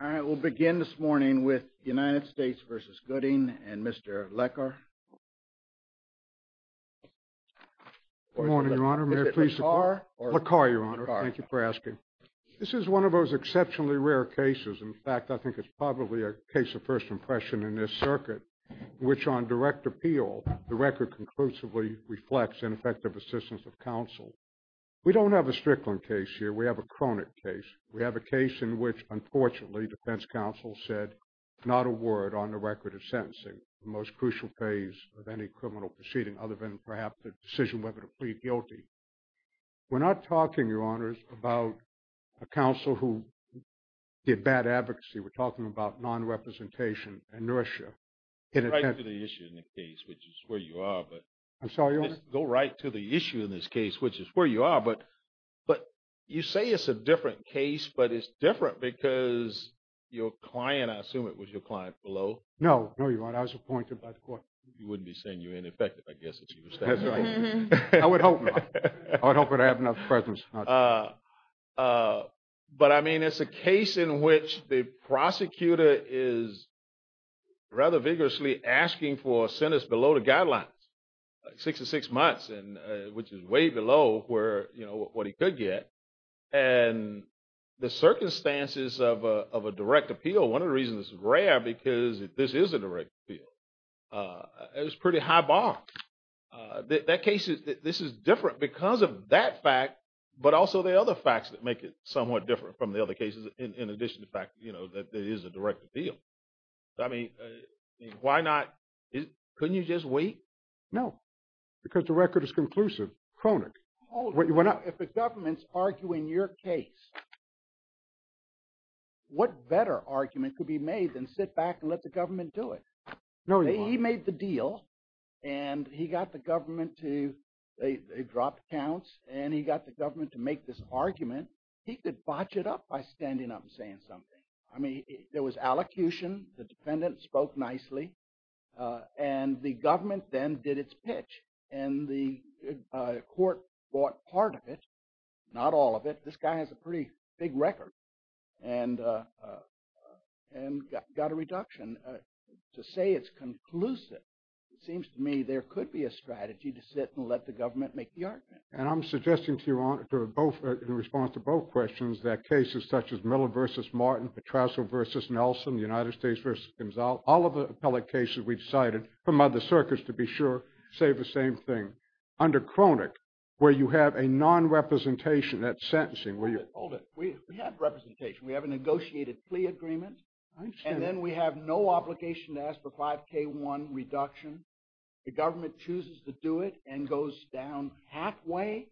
All right, we'll begin this morning with the United States v. Gooding and Mr. Leckar. Good morning, Your Honor. Mr. Leckar? Leckar, Your Honor. Thank you for asking. This is one of those exceptionally rare cases. In fact, I think it's probably a case of first impression in this circuit, which on direct appeal, the record conclusively reflects ineffective assistance of counsel. We don't have a case in which, unfortunately, defense counsel said not a word on the record of sentencing, the most crucial phase of any criminal proceeding, other than perhaps the decision whether to plead guilty. We're not talking, Your Honors, about a counsel who did bad advocacy. We're talking about non-representation inertia. Go right to the issue in the case, which is where you are. I'm sorry, Your Honor? Go right to the issue in this case, which is where you are, but you say it's a different because your client, I assume it was your client below? No, no, Your Honor. I was appointed by the court. You wouldn't be saying you're ineffective, I guess, if you were standing there. I would hope not. I would hope that I have enough presence. But, I mean, it's a case in which the prosecutor is rather vigorously asking for a sentence below the guidelines, six to six months, which is way below where, you know, what he could get. And the circumstances of a direct appeal, one of the reasons it's rare, because if this is a direct appeal, it's pretty high bar. That case, this is different because of that fact, but also the other facts that make it somewhat different from the other cases, in addition to the fact, you know, that it is a direct appeal. I mean, why not, couldn't you just wait? No, because the record is conclusive. Cronin, why not? If the government's arguing your case, what better argument could be made than sit back and let the government do it? No, Your Honor. He made the deal, and he got the government to, they dropped counts, and he got the government to make this argument. He could botch it up by standing up and saying something. I mean, there was allocution, the defendant spoke nicely, and the government then did its pitch, and the court bought part of it, not all of it. This guy has a pretty big record, and got a reduction. To say it's conclusive, it seems to me there could be a strategy to sit and let the government make the argument. And I'm suggesting to Your Honor, in response to both questions, that cases such as Miller v. Martin, Petrazzo v. Nelson, United States v. Gonzales, all of the same thing, under Cronin, where you have a non-representation, that's sentencing, where you... Hold it, hold it. We have representation. We have a negotiated plea agreement, and then we have no obligation to ask for 5k1 reduction. The government chooses to do it, and goes down halfway,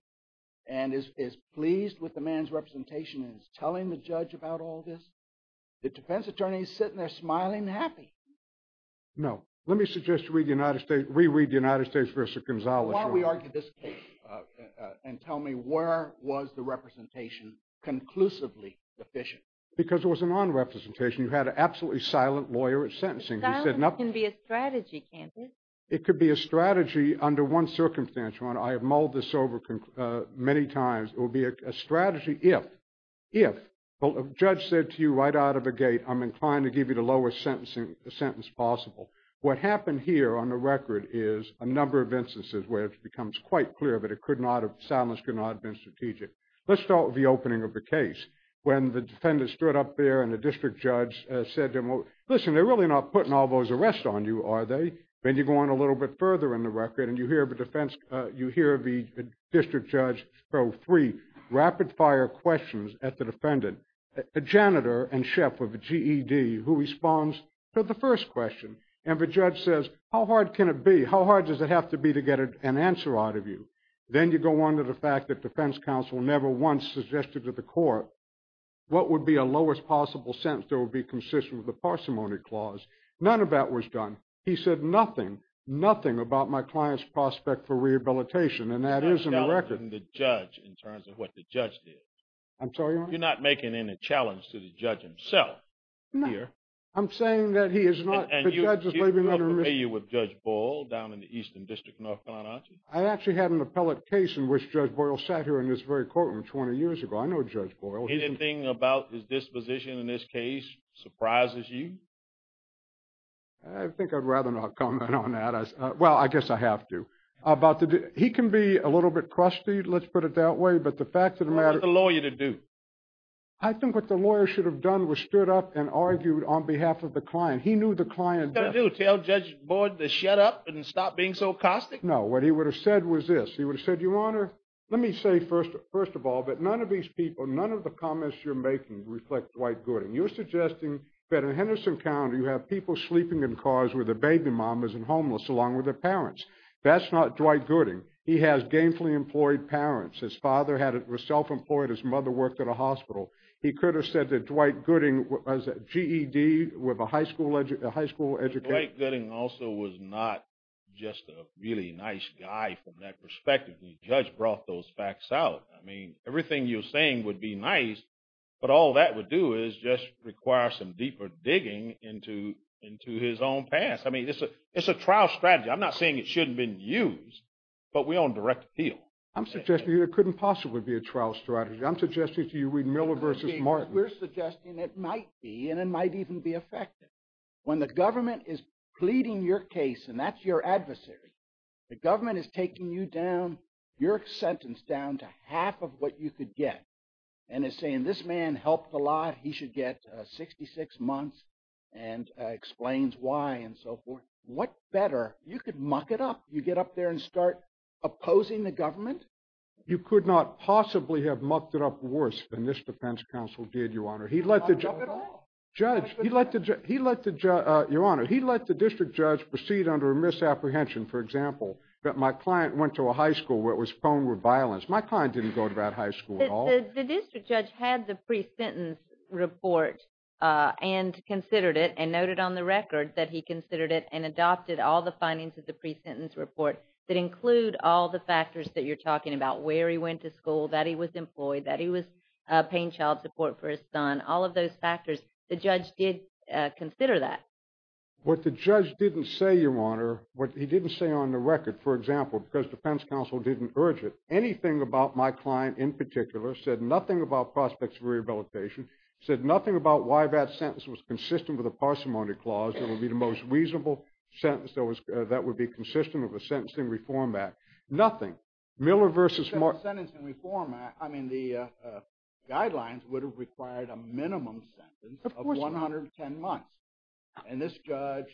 and is pleased with the man's representation, and is telling the judge about all this. The defense attorney is sitting there, smiling, happy. No. Let me suggest you read the United States v. Gonzales. While we argue this case, and tell me where was the representation conclusively sufficient? Because it was a non-representation. You had an absolutely silent lawyer at sentencing. Silent can be a strategy, can't it? It could be a strategy under one circumstance, Your Honor. I have mulled this over many times. It will be a strategy if, if, the judge said to you right out of the gate, I'm inclined to give you the lowest sentence possible. What happened here on the record is a number of instances where it becomes quite clear that it could not have, silence could not have been strategic. Let's start with the opening of the case. When the defendant stood up there, and the district judge said to him, listen, they're really not putting all those arrests on you, are they? Then you go on a little bit further in the record, and you hear the defense, you hear the district judge throw three rapid-fire questions at the defendant. The janitor and chef of the GED, who responds to the first question, and the judge says, how hard can it be? How hard does it have to be to get an answer out of you? Then you go on to the fact that defense counsel never once suggested to the court what would be a lowest possible sentence that would be consistent with the parsimony clause. None of that was done. He said nothing, nothing about my client's prospect for rehabilitation, and that is in the record. You're not challenging the judge in terms of what the judge did. I'm sorry, Your Honor? You're not making any challenge to the judge himself? No. I'm saying that he is not, the judge is maybe not remiss. And you have enough to do with Judge Boyle down in the Eastern District of North Carolina, aren't you? I actually had an appellate case in which Judge Boyle sat here in this very courtroom 20 years ago. I know Judge Boyle. Anything about his disposition in this case surprises you? I think I'd rather not comment on that. Well, I guess I have to. He can be a little bit crusty, let's put it that way, but the fact of the matter... What is the lawyer to do? I think what the lawyer should have done was stood up and argued on behalf of the client. He knew the client... What did he do? Tell Judge Boyle to shut up and stop being so caustic? No. What he would have said was this. He would have said, Your Honor, let me say first of all that none of these people, none of the comments you're making reflect Dwight Gooding. You're suggesting that in Henderson County you have people sleeping in cars with their baby mamas and homeless along with their parents. That's not Dwight Gooding. He has gainfully employed parents. His father was self-employed. His mother worked at a hospital. He could have said that Dwight Gooding was a GED with a high school education. Dwight Gooding also was not just a really nice guy from that perspective. The judge brought those facts out. I mean, everything you're saying would be nice, but all that would do is just require some deeper digging into his own past. I mean, it's a trial strategy. I'm not saying it shouldn't have been used, but we own direct appeal. I'm suggesting it couldn't possibly be a trial strategy. I'm suggesting to you, reading Miller versus Martin. We're suggesting it might be, and it might even be effective. When the government is pleading your case and that's your adversary, the government is taking you down, your sentence down to half of what you could get and is saying this man helped a lot. He should get 66 months and explains why and so forth. What better? You could muck it up. You get up there and start opposing the government. You could not possibly have mucked it up worse than this defense counsel did, Your Honor. He let the district judge proceed under a misapprehension. For example, that my client went to a high school where it was prone with violence. My client didn't go to that high school at all. The district judge had the pre-sentence report and considered it and noted on the record that he considered it and adopted all the findings of the pre-sentence report that include all the factors that you're talking about, where he went to school, that he was employed, that he was paying child support for his son, all of those factors. The judge did consider that. What the judge didn't say, Your Honor, what he didn't say on the record, for example, because defense counsel didn't urge it, anything about my client in particular said nothing about prospects for rehabilitation, said nothing about why that sentence was consistent with a parsimony clause that would be the most reasonable sentence that would be consistent with a Sentencing Reform Act. Nothing. Miller versus Mark. Sentencing Reform Act, I mean, the guidelines would have required a minimum sentence of 110 months. And this judge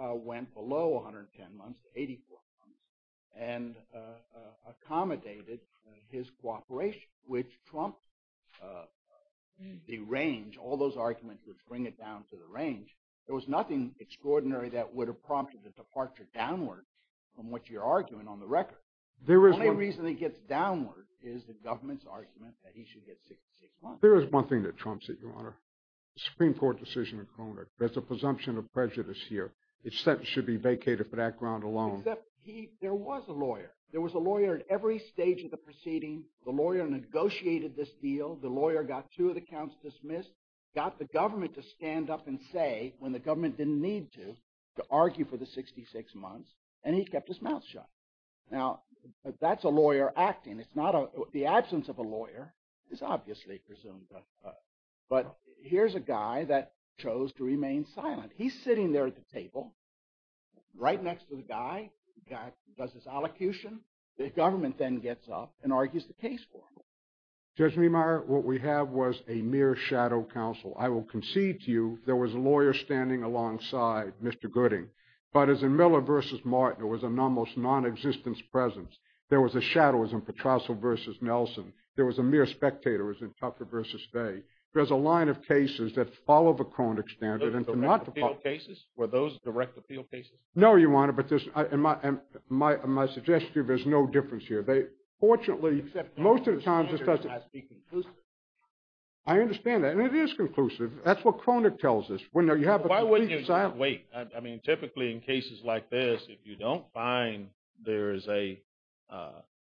went below 110 months, 84 months, and accommodated his cooperation, which trumped the range. All those arguments would bring it down to the range. There was nothing extraordinary that would have prompted the departure downward from what you're arguing on the record. The only reason it gets downward is the government's argument that he should get 66 months. There is one thing that trumps it, Your Honor. The Supreme Court decision in Cronert, there's a presumption of prejudice here. It should be vacated for that ground alone. Except there was a lawyer. There was a lawyer at every stage of the proceeding. The lawyer negotiated this deal. The lawyer got two of his accounts dismissed, got the government to stand up and say when the government didn't need to, to argue for the 66 months, and he kept his mouth shut. Now, that's a lawyer acting. The absence of a lawyer is obviously presumed. But here's a guy that chose to remain silent. He's sitting there at the table right next to the guy, does his allocution. The government then gets up and argues the case for him. Judge Meemeyer, what we have was a mere shadow counsel. I will concede to you there was a lawyer standing alongside Mr. Gooding. But as in Miller v. Martin, there was an almost non-existent presence. There was a shadow as in Patrasso v. Nelson. There was a mere spectator as in Tucker v. Faye. There's a line of cases that follow the Cronert standard. Those direct appeal cases? Were those direct appeal cases? No, Your Honor, but my suggestion is there's no difference here. Fortunately, most of the time, I understand that. And it is conclusive. That's what Cronert tells us. Why wouldn't you wait? I mean, typically in cases like this, if you don't find there is an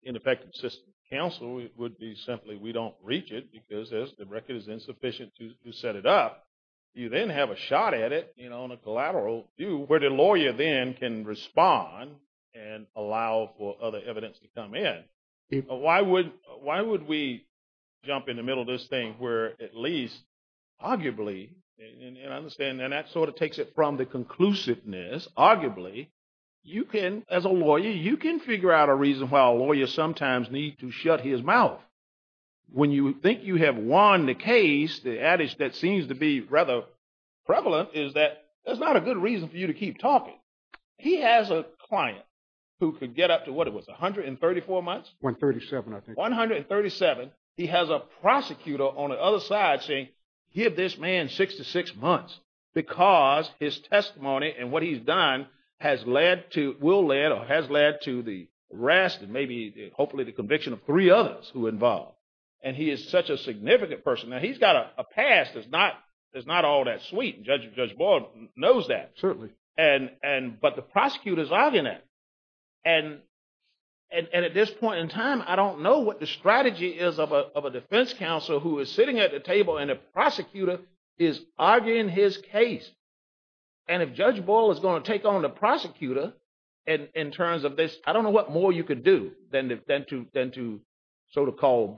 ineffective system of counsel, it would be simply we don't reach it because the record is insufficient to set it up. You then have a shot at it on a collateral view where the lawyer then can respond and allow for other evidence to come in. Why would we jump in the middle of this thing where at least arguably, and I understand that sort of takes it from the conclusiveness, arguably, you can, as a lawyer, you can figure out a reason why a lawyer sometimes need to shut his mouth. When you think you have won the case, the adage that seems to be rather prevalent is that there's not a good reason for you to keep talking. He has a client who could get up to what it was, 134 months? 137, I think. 137. He has a prosecutor on the other side saying, give this man six to six months, because his testimony and what he's done will lead or has led to the arrest and maybe hopefully the conviction of three others who are involved. And he is such a significant person. Now, he's got a past that's not all that sweet. Judge Boyle knows that. Certainly. But the prosecutor's arguing that. And at this point in time, I don't know what the strategy is of a defense counsel who is sitting at the table and a prosecutor is arguing his case. And if Judge Boyle is going to take on the prosecutor in terms of this, I don't know what more you could do than to sort of call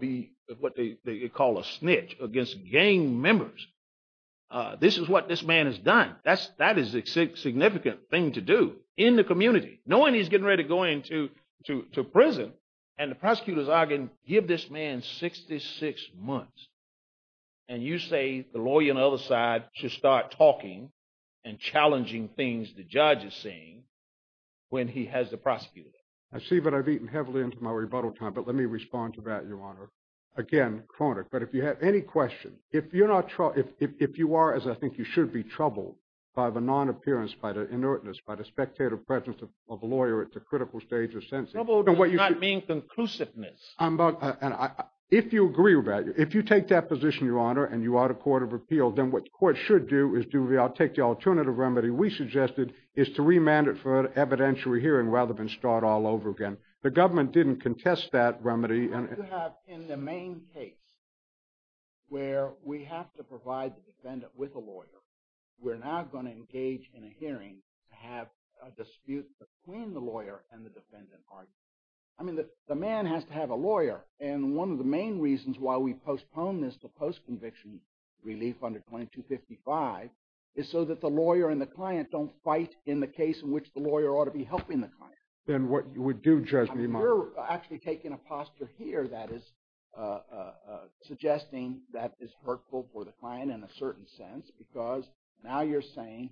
what they call a snitch against gang members. This is what this man has done. That is a significant thing to do in the community, knowing he's getting ready to go into prison. And the prosecutor's arguing, give this man 66 months. And you say the lawyer on the other side should start talking and challenging things the judge is saying when he has the prosecutor. I see that I've eaten heavily into my rebuttal time, but let me respond to that, Your Honor. Again, chronic. But if you have any questions, if you're not, if you are, as I think you should be, troubled by the non-appearance, by the inertness, by the spectator presence of a lawyer at the critical stage of sentencing. Trouble does not mean conclusiveness. If you agree with that, if you take that position, Your Honor, and you are the court of appeal, then what the court should do is do, I'll take the alternative remedy we suggested, is to remand it for evidentiary hearing rather than start all over again. The government didn't contest that remedy. You have in the main case where we have to provide the defendant with a lawyer, we're now going to engage in a hearing to have a dispute between the lawyer and the defendant. I mean, the man has to have a lawyer. And one of the main reasons why we postponed this to post-conviction relief under 2255 is so that the lawyer and the client don't fight in the case in which the lawyer ought to be helping the client. Then what you would do, Judge, would be much... I mean, you're actually taking a posture here that is suggesting that is hurtful for the client in a certain sense, because now you're saying,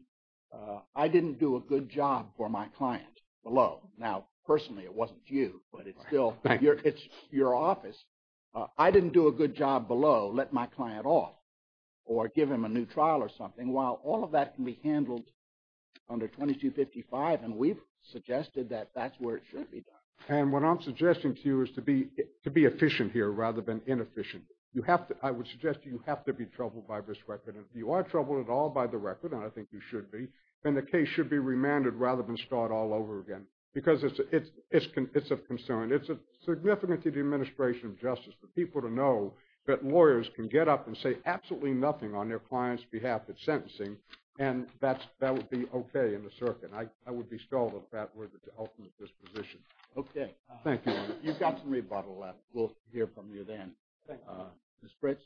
I didn't do a good job for my client below. Now, personally, it wasn't you, but it's still, it's your office. I didn't do a good job below, let my client off, or give him a new trial or something, while all of that can be handled under 2255. And we've suggested that that's where it should be done. And what I'm suggesting to you is to be efficient here rather than inefficient. I would suggest you have to be troubled by this record. If you are troubled at all by the record, and I think you should be, then the case should be remanded rather than start all over again. Because it's of concern. It's significant to the administration of justice for people to know that lawyers can get up and say absolutely nothing on their client's behalf that's sentencing. And that would be okay in the circuit. I would be stalled if that were the ultimate disposition. Okay. Thank you. You've got some rebuttal left. We'll hear from you then. Ms. Briggs.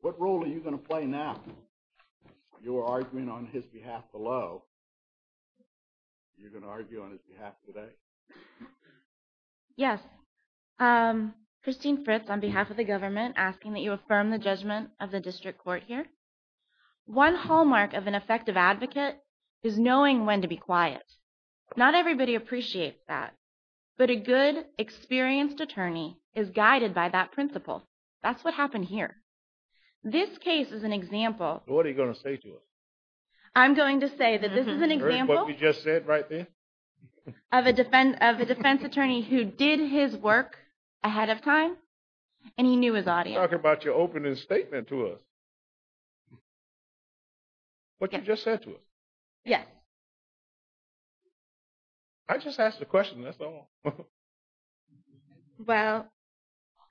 What role are you going to play now? Your argument on his behalf below. You're going to argue on his behalf today? Yes. Christine Fritz on behalf of the government asking that you affirm the judgment of the district court here. One hallmark of an effective advocate is knowing when to be quiet. Not everybody appreciates that. But a good, experienced attorney is guided by that principle. That's what happened here. This case is an example. What are you going to say to us? I'm going to say that this is an example. Of what we just said right there? Of a defense attorney who did his work ahead of time. And he knew his audience. You're talking about your opening statement to us. What you just said to us. Yes. I just asked a question. That's all. Well,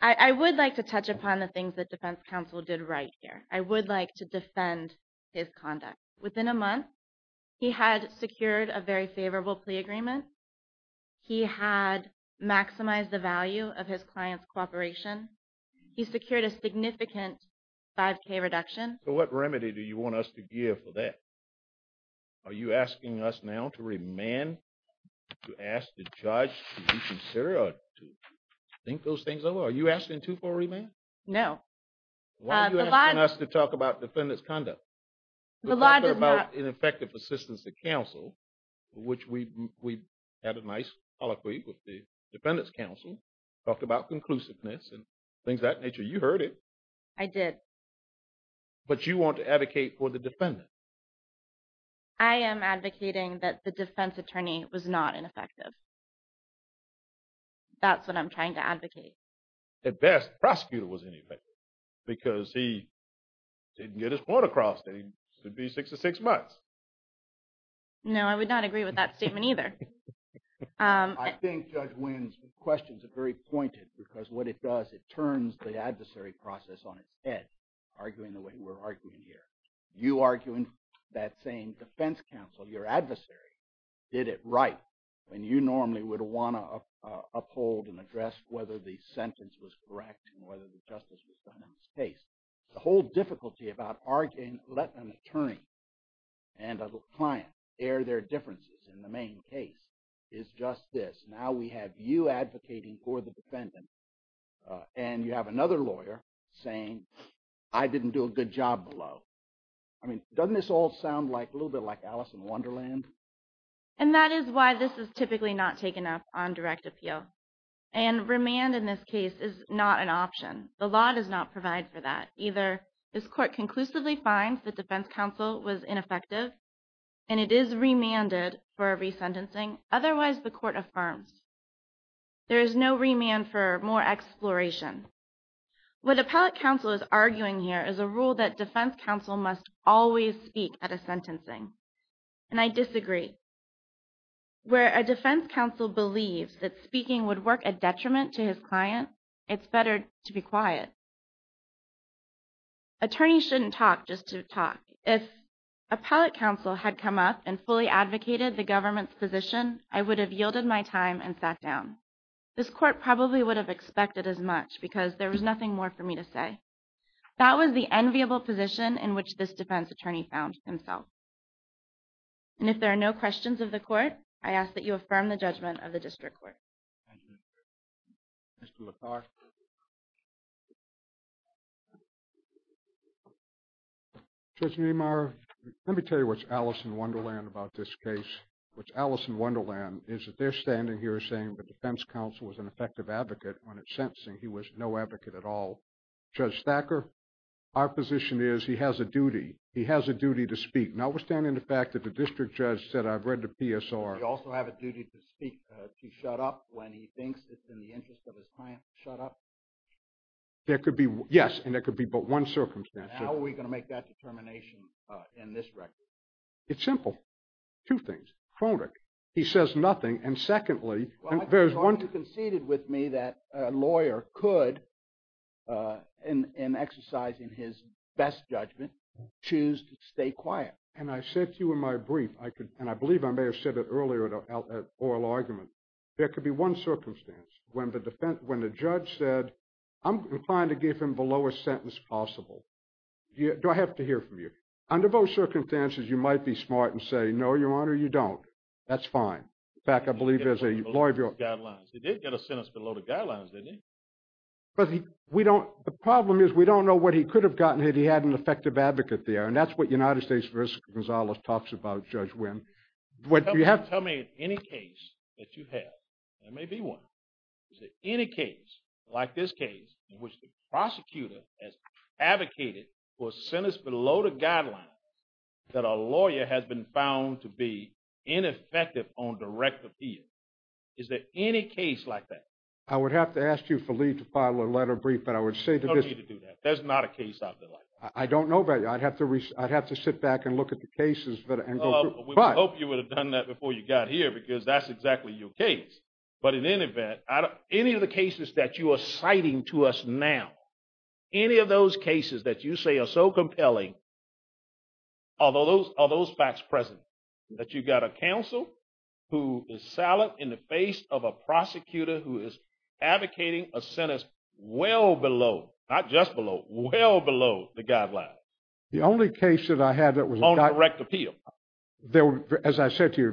I would like to touch upon the things that defense counsel did right here. I would like to defend his conduct. Within a month, he had secured a very favorable plea agreement. He had maximized the value of his client's cooperation. He secured a significant 5k reduction. So what remedy do you want us to give for that? Are you asking us now to remand? To ask the judge to reconsider? Or to think those things over? Are you asking to for remand? No. Why are you asking us to talk about defendant's conduct? The law does not. Ineffective assistance to counsel. Which we had a nice colloquy with the defendant's counsel. Talked about conclusiveness and things of that nature. You heard it. I did. But you want to advocate for the defendant. I am advocating that the defense attorney was not ineffective. That's what I'm trying to advocate. At best, prosecutor was ineffective. Because he didn't get his point across. That he should be six to six months. No, I would not agree with that statement either. I think Judge Wynn's questions are very pointed. Because what it does, it turns the adversary process on its head. Arguing the way we're arguing here. You arguing that same defense counsel, your adversary, did it right. When you normally would want to uphold and address whether the sentence was correct. Whether the justice was done in this case. The whole difficulty about arguing. Let an attorney and a client air their differences in the main case is just this. Now we have you advocating for the defendant. And you have another lawyer saying, I didn't do a good job below. I mean, doesn't this all sound like a little bit like Alice in Wonderland? And that is why this is typically not taken up on direct appeal. And remand in this case is not an option. The law does not provide for that either. This court conclusively finds that defense counsel was ineffective. And it is remanded for a resentencing. Otherwise, the court affirms. There is no remand for more exploration. What appellate counsel is arguing here is a rule that defense counsel must always speak at a sentencing. And I disagree. Where a defense counsel believes that speaking would work a detriment to his client, it's better to be quiet. Attorneys shouldn't talk just to talk. If appellate counsel had come up and fully advocated the government's position, I would have yielded my time and sat down. This court probably would have expected as much because there was nothing more for me to say. That was the enviable position in which this defense attorney found himself. And if there are no questions of the court, I ask that you affirm the judgment of the district court. Judge Niemeyer, let me tell you what's Alice in Wonderland about this case. What's Alice in Wonderland is that they're standing here saying the defense counsel was an effective advocate when it's sentencing. He was no advocate at all. Judge Thacker, our position is he has a duty. He has a duty to speak. Notwithstanding the fact that the district judge said, I've read the PSR. He also have a duty to speak, to shut up when he thinks it's in the interest of his client to shut up? There could be, yes. And there could be but one circumstance. How are we going to make that determination in this record? It's simple. Two things. Chronic. He says nothing. And secondly, there's one. You conceded with me that a lawyer could, in exercising his best judgment, choose to stay quiet. And I said to you in my brief, and I believe I may have said it earlier in an oral argument, there could be one circumstance when the judge said, I'm inclined to give him below a sentence possible. Do I have to hear from you? Under those circumstances, you might be smart and say, no, Your Honor, you don't. That's fine. In fact, I believe as a lawyer of yours. He did get a sentence below the guidelines, didn't he? The problem is we don't know what he could have gotten if he had an effective advocate there. That's what United States versus Gonzalez talks about, Judge Wynn. Tell me any case that you have. There may be one. Is there any case like this case in which the prosecutor has advocated for sentence below the guidelines that a lawyer has been found to be ineffective on direct appeal? Is there any case like that? I would have to ask you for leave to file a letter of brief. But I would say that there's not a case out there like that. I don't know about you. I'd have to sit back and look at the cases. We hope you would have done that before you got here because that's exactly your case. But in any event, any of the cases that you are citing to us now, any of those cases that you say are so compelling, are those facts present? That you've got a counsel who is silent in the face of a prosecutor who is advocating a sentence well below, not just below, well below the guidelines. The only case that I had that was not- On direct appeal. As I said to you,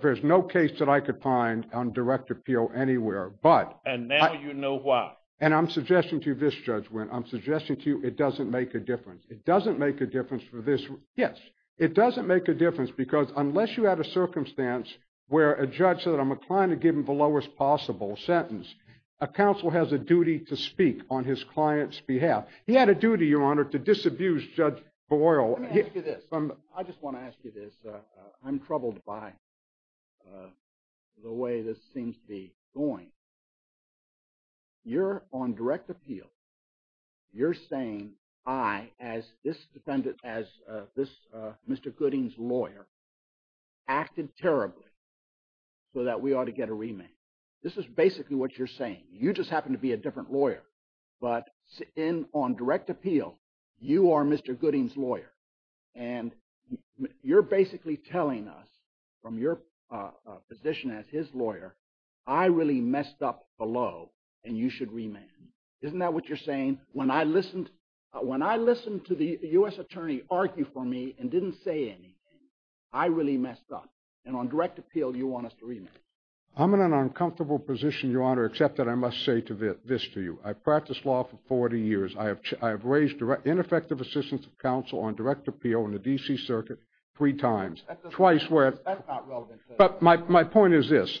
there's no case that I could find on direct appeal anywhere, but- And now you know why. And I'm suggesting to you this, Judge Wynn. I'm suggesting to you it doesn't make a difference. It doesn't make a difference for this. Yes, it doesn't make a difference because unless you had a circumstance where a judge said, I'm inclined to give him the lowest possible sentence, a counsel has a duty to speak on his client's behalf. He had a duty, Your Honor, to disabuse Judge Boyle. Let me ask you this. I just want to ask you this. I'm troubled by the way this seems to be going. You're on direct appeal. You're saying I, as this defendant, as this Mr. Gooding's lawyer, acted terribly so that we ought to get a remand. This is basically what you're saying. You just happen to be a different lawyer, but on direct appeal, you are Mr. Gooding's lawyer. And you're basically telling us from your position as his lawyer, I really messed up below and you should remand. Isn't that what you're saying? When I listened to the U.S. attorney argue for me and didn't say anything, I really messed up. And on direct appeal, you want us to remand. I'm in an uncomfortable position, Your Honor, except that I must say this to you. I've practiced law for 40 years. I have raised ineffective assistance of counsel on direct appeal in the D.C. Circuit three times. But my point is this.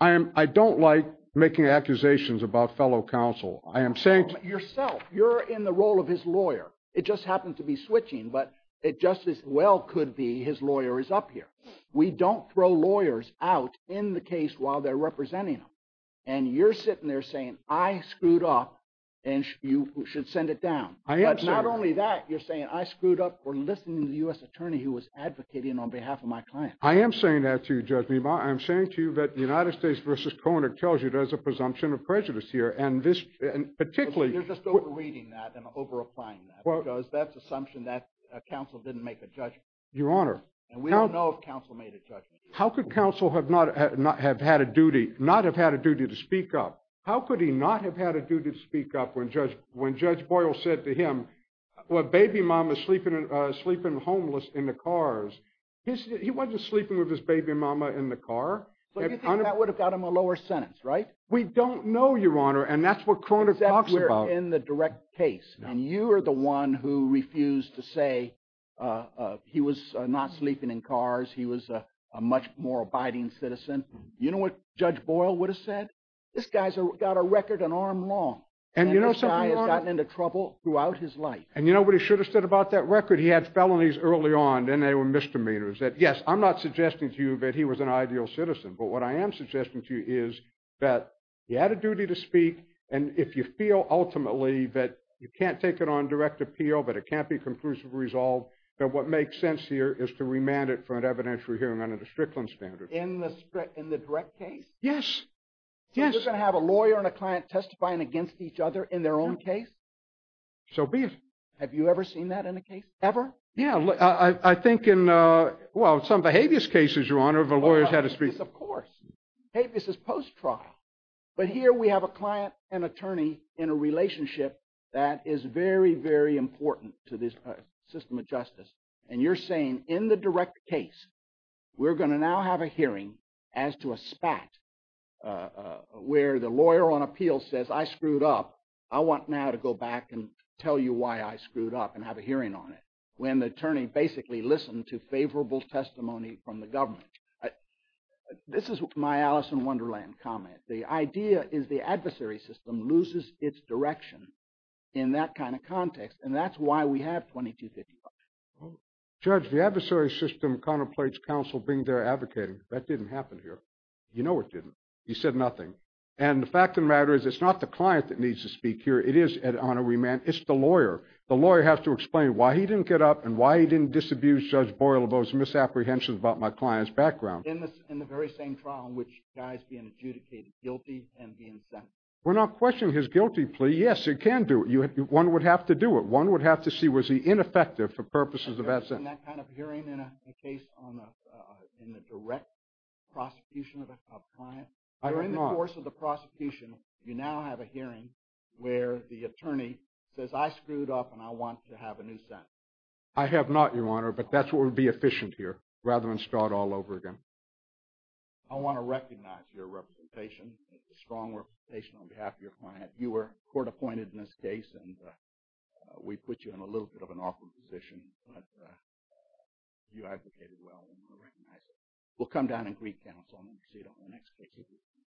I don't like making accusations about fellow counsel. I am saying to you. Yourself, you're in the role of his lawyer. It just happened to be switching, but it just as well could be his lawyer is up here. We don't throw lawyers out in the case while they're representing them. And you're sitting there saying I screwed up and you should send it down. I am, sir. But not only that, you're saying I screwed up for listening to the U.S. attorney who was advocating on behalf of my client. I am saying that to you, Judge Meemaw. I'm saying to you that the United States v. Koenig tells you there's a presumption of prejudice here. And this, and particularly. You're just over reading that and over applying that because that's assumption that counsel didn't make a judgment. Your Honor. And we don't know if counsel made a judgment. How could counsel have not have had a duty, not have had a duty to speak up? How could he not have had a duty to speak up when Judge Boyle said to him, well, baby mama sleeping homeless in the cars. He wasn't sleeping with his baby mama in the car. So you think that would have got him a lower sentence, right? We don't know, Your Honor. And that's what Koenig talks about. In the direct case. And you are the one who refused to say he was not sleeping in cars. He was a much more abiding citizen. You know what Judge Boyle would have said? This guy's got a record an arm long. And this guy has gotten into trouble throughout his life. And you know what he should have said about that record? He had felonies early on. Then they were misdemeanors. That yes, I'm not suggesting to you that he was an ideal citizen. But what I am suggesting to you is that he had a duty to speak. And if you feel ultimately that you can't take it on direct appeal, but it can't be conclusively resolved, that what makes sense here is to remand it for an evidentiary hearing under the Strickland standard. In the direct case? Yes. So you're going to have a lawyer and a client testifying against each other in their own case? So be it. Have you ever seen that in a case? Ever? Yeah, I think in, well, some of the habeas cases, Your Honor, if a lawyer's had a speech. Of course. Habeas is post-trial. But here we have a client and attorney in a relationship that is very, very important to this system of justice. And you're saying in the direct case, we're going to now have a hearing as to a spat where the lawyer on appeal says, I screwed up. I want now to go back and tell you why I screwed up and have a hearing on it. When the attorney basically listened to favorable testimony from the government. I, this is my Alice in Wonderland comment. The idea is the adversary system loses its direction in that kind of context. And that's why we have 2255. Judge, the adversary system contemplates counsel being there advocating. That didn't happen here. You know it didn't. He said nothing. And the fact of the matter is, it's not the client that needs to speak here. It is an honoree man. It's the lawyer. The lawyer has to explain why he didn't get up and why he didn't disabuse Judge Borrello of those misapprehensions about my clients. In the very same trial in which guy's being adjudicated guilty and being sentenced. We're not questioning his guilty plea. Yes, it can do it. One would have to do it. One would have to see was he ineffective for purposes of that sentence. In that kind of hearing in a case in the direct prosecution of a client. During the course of the prosecution, you now have a hearing where the attorney says, I screwed up and I want to have a new sentence. I have not, Your Honor. But that's what would be efficient here rather than start all over again. I want to recognize your representation. It's a strong representation on behalf of your client. You were court appointed in this case and we put you in a little bit of an awkward position. But you advocated well and we recognize it. We'll come down and greet counsel and proceed on the next case.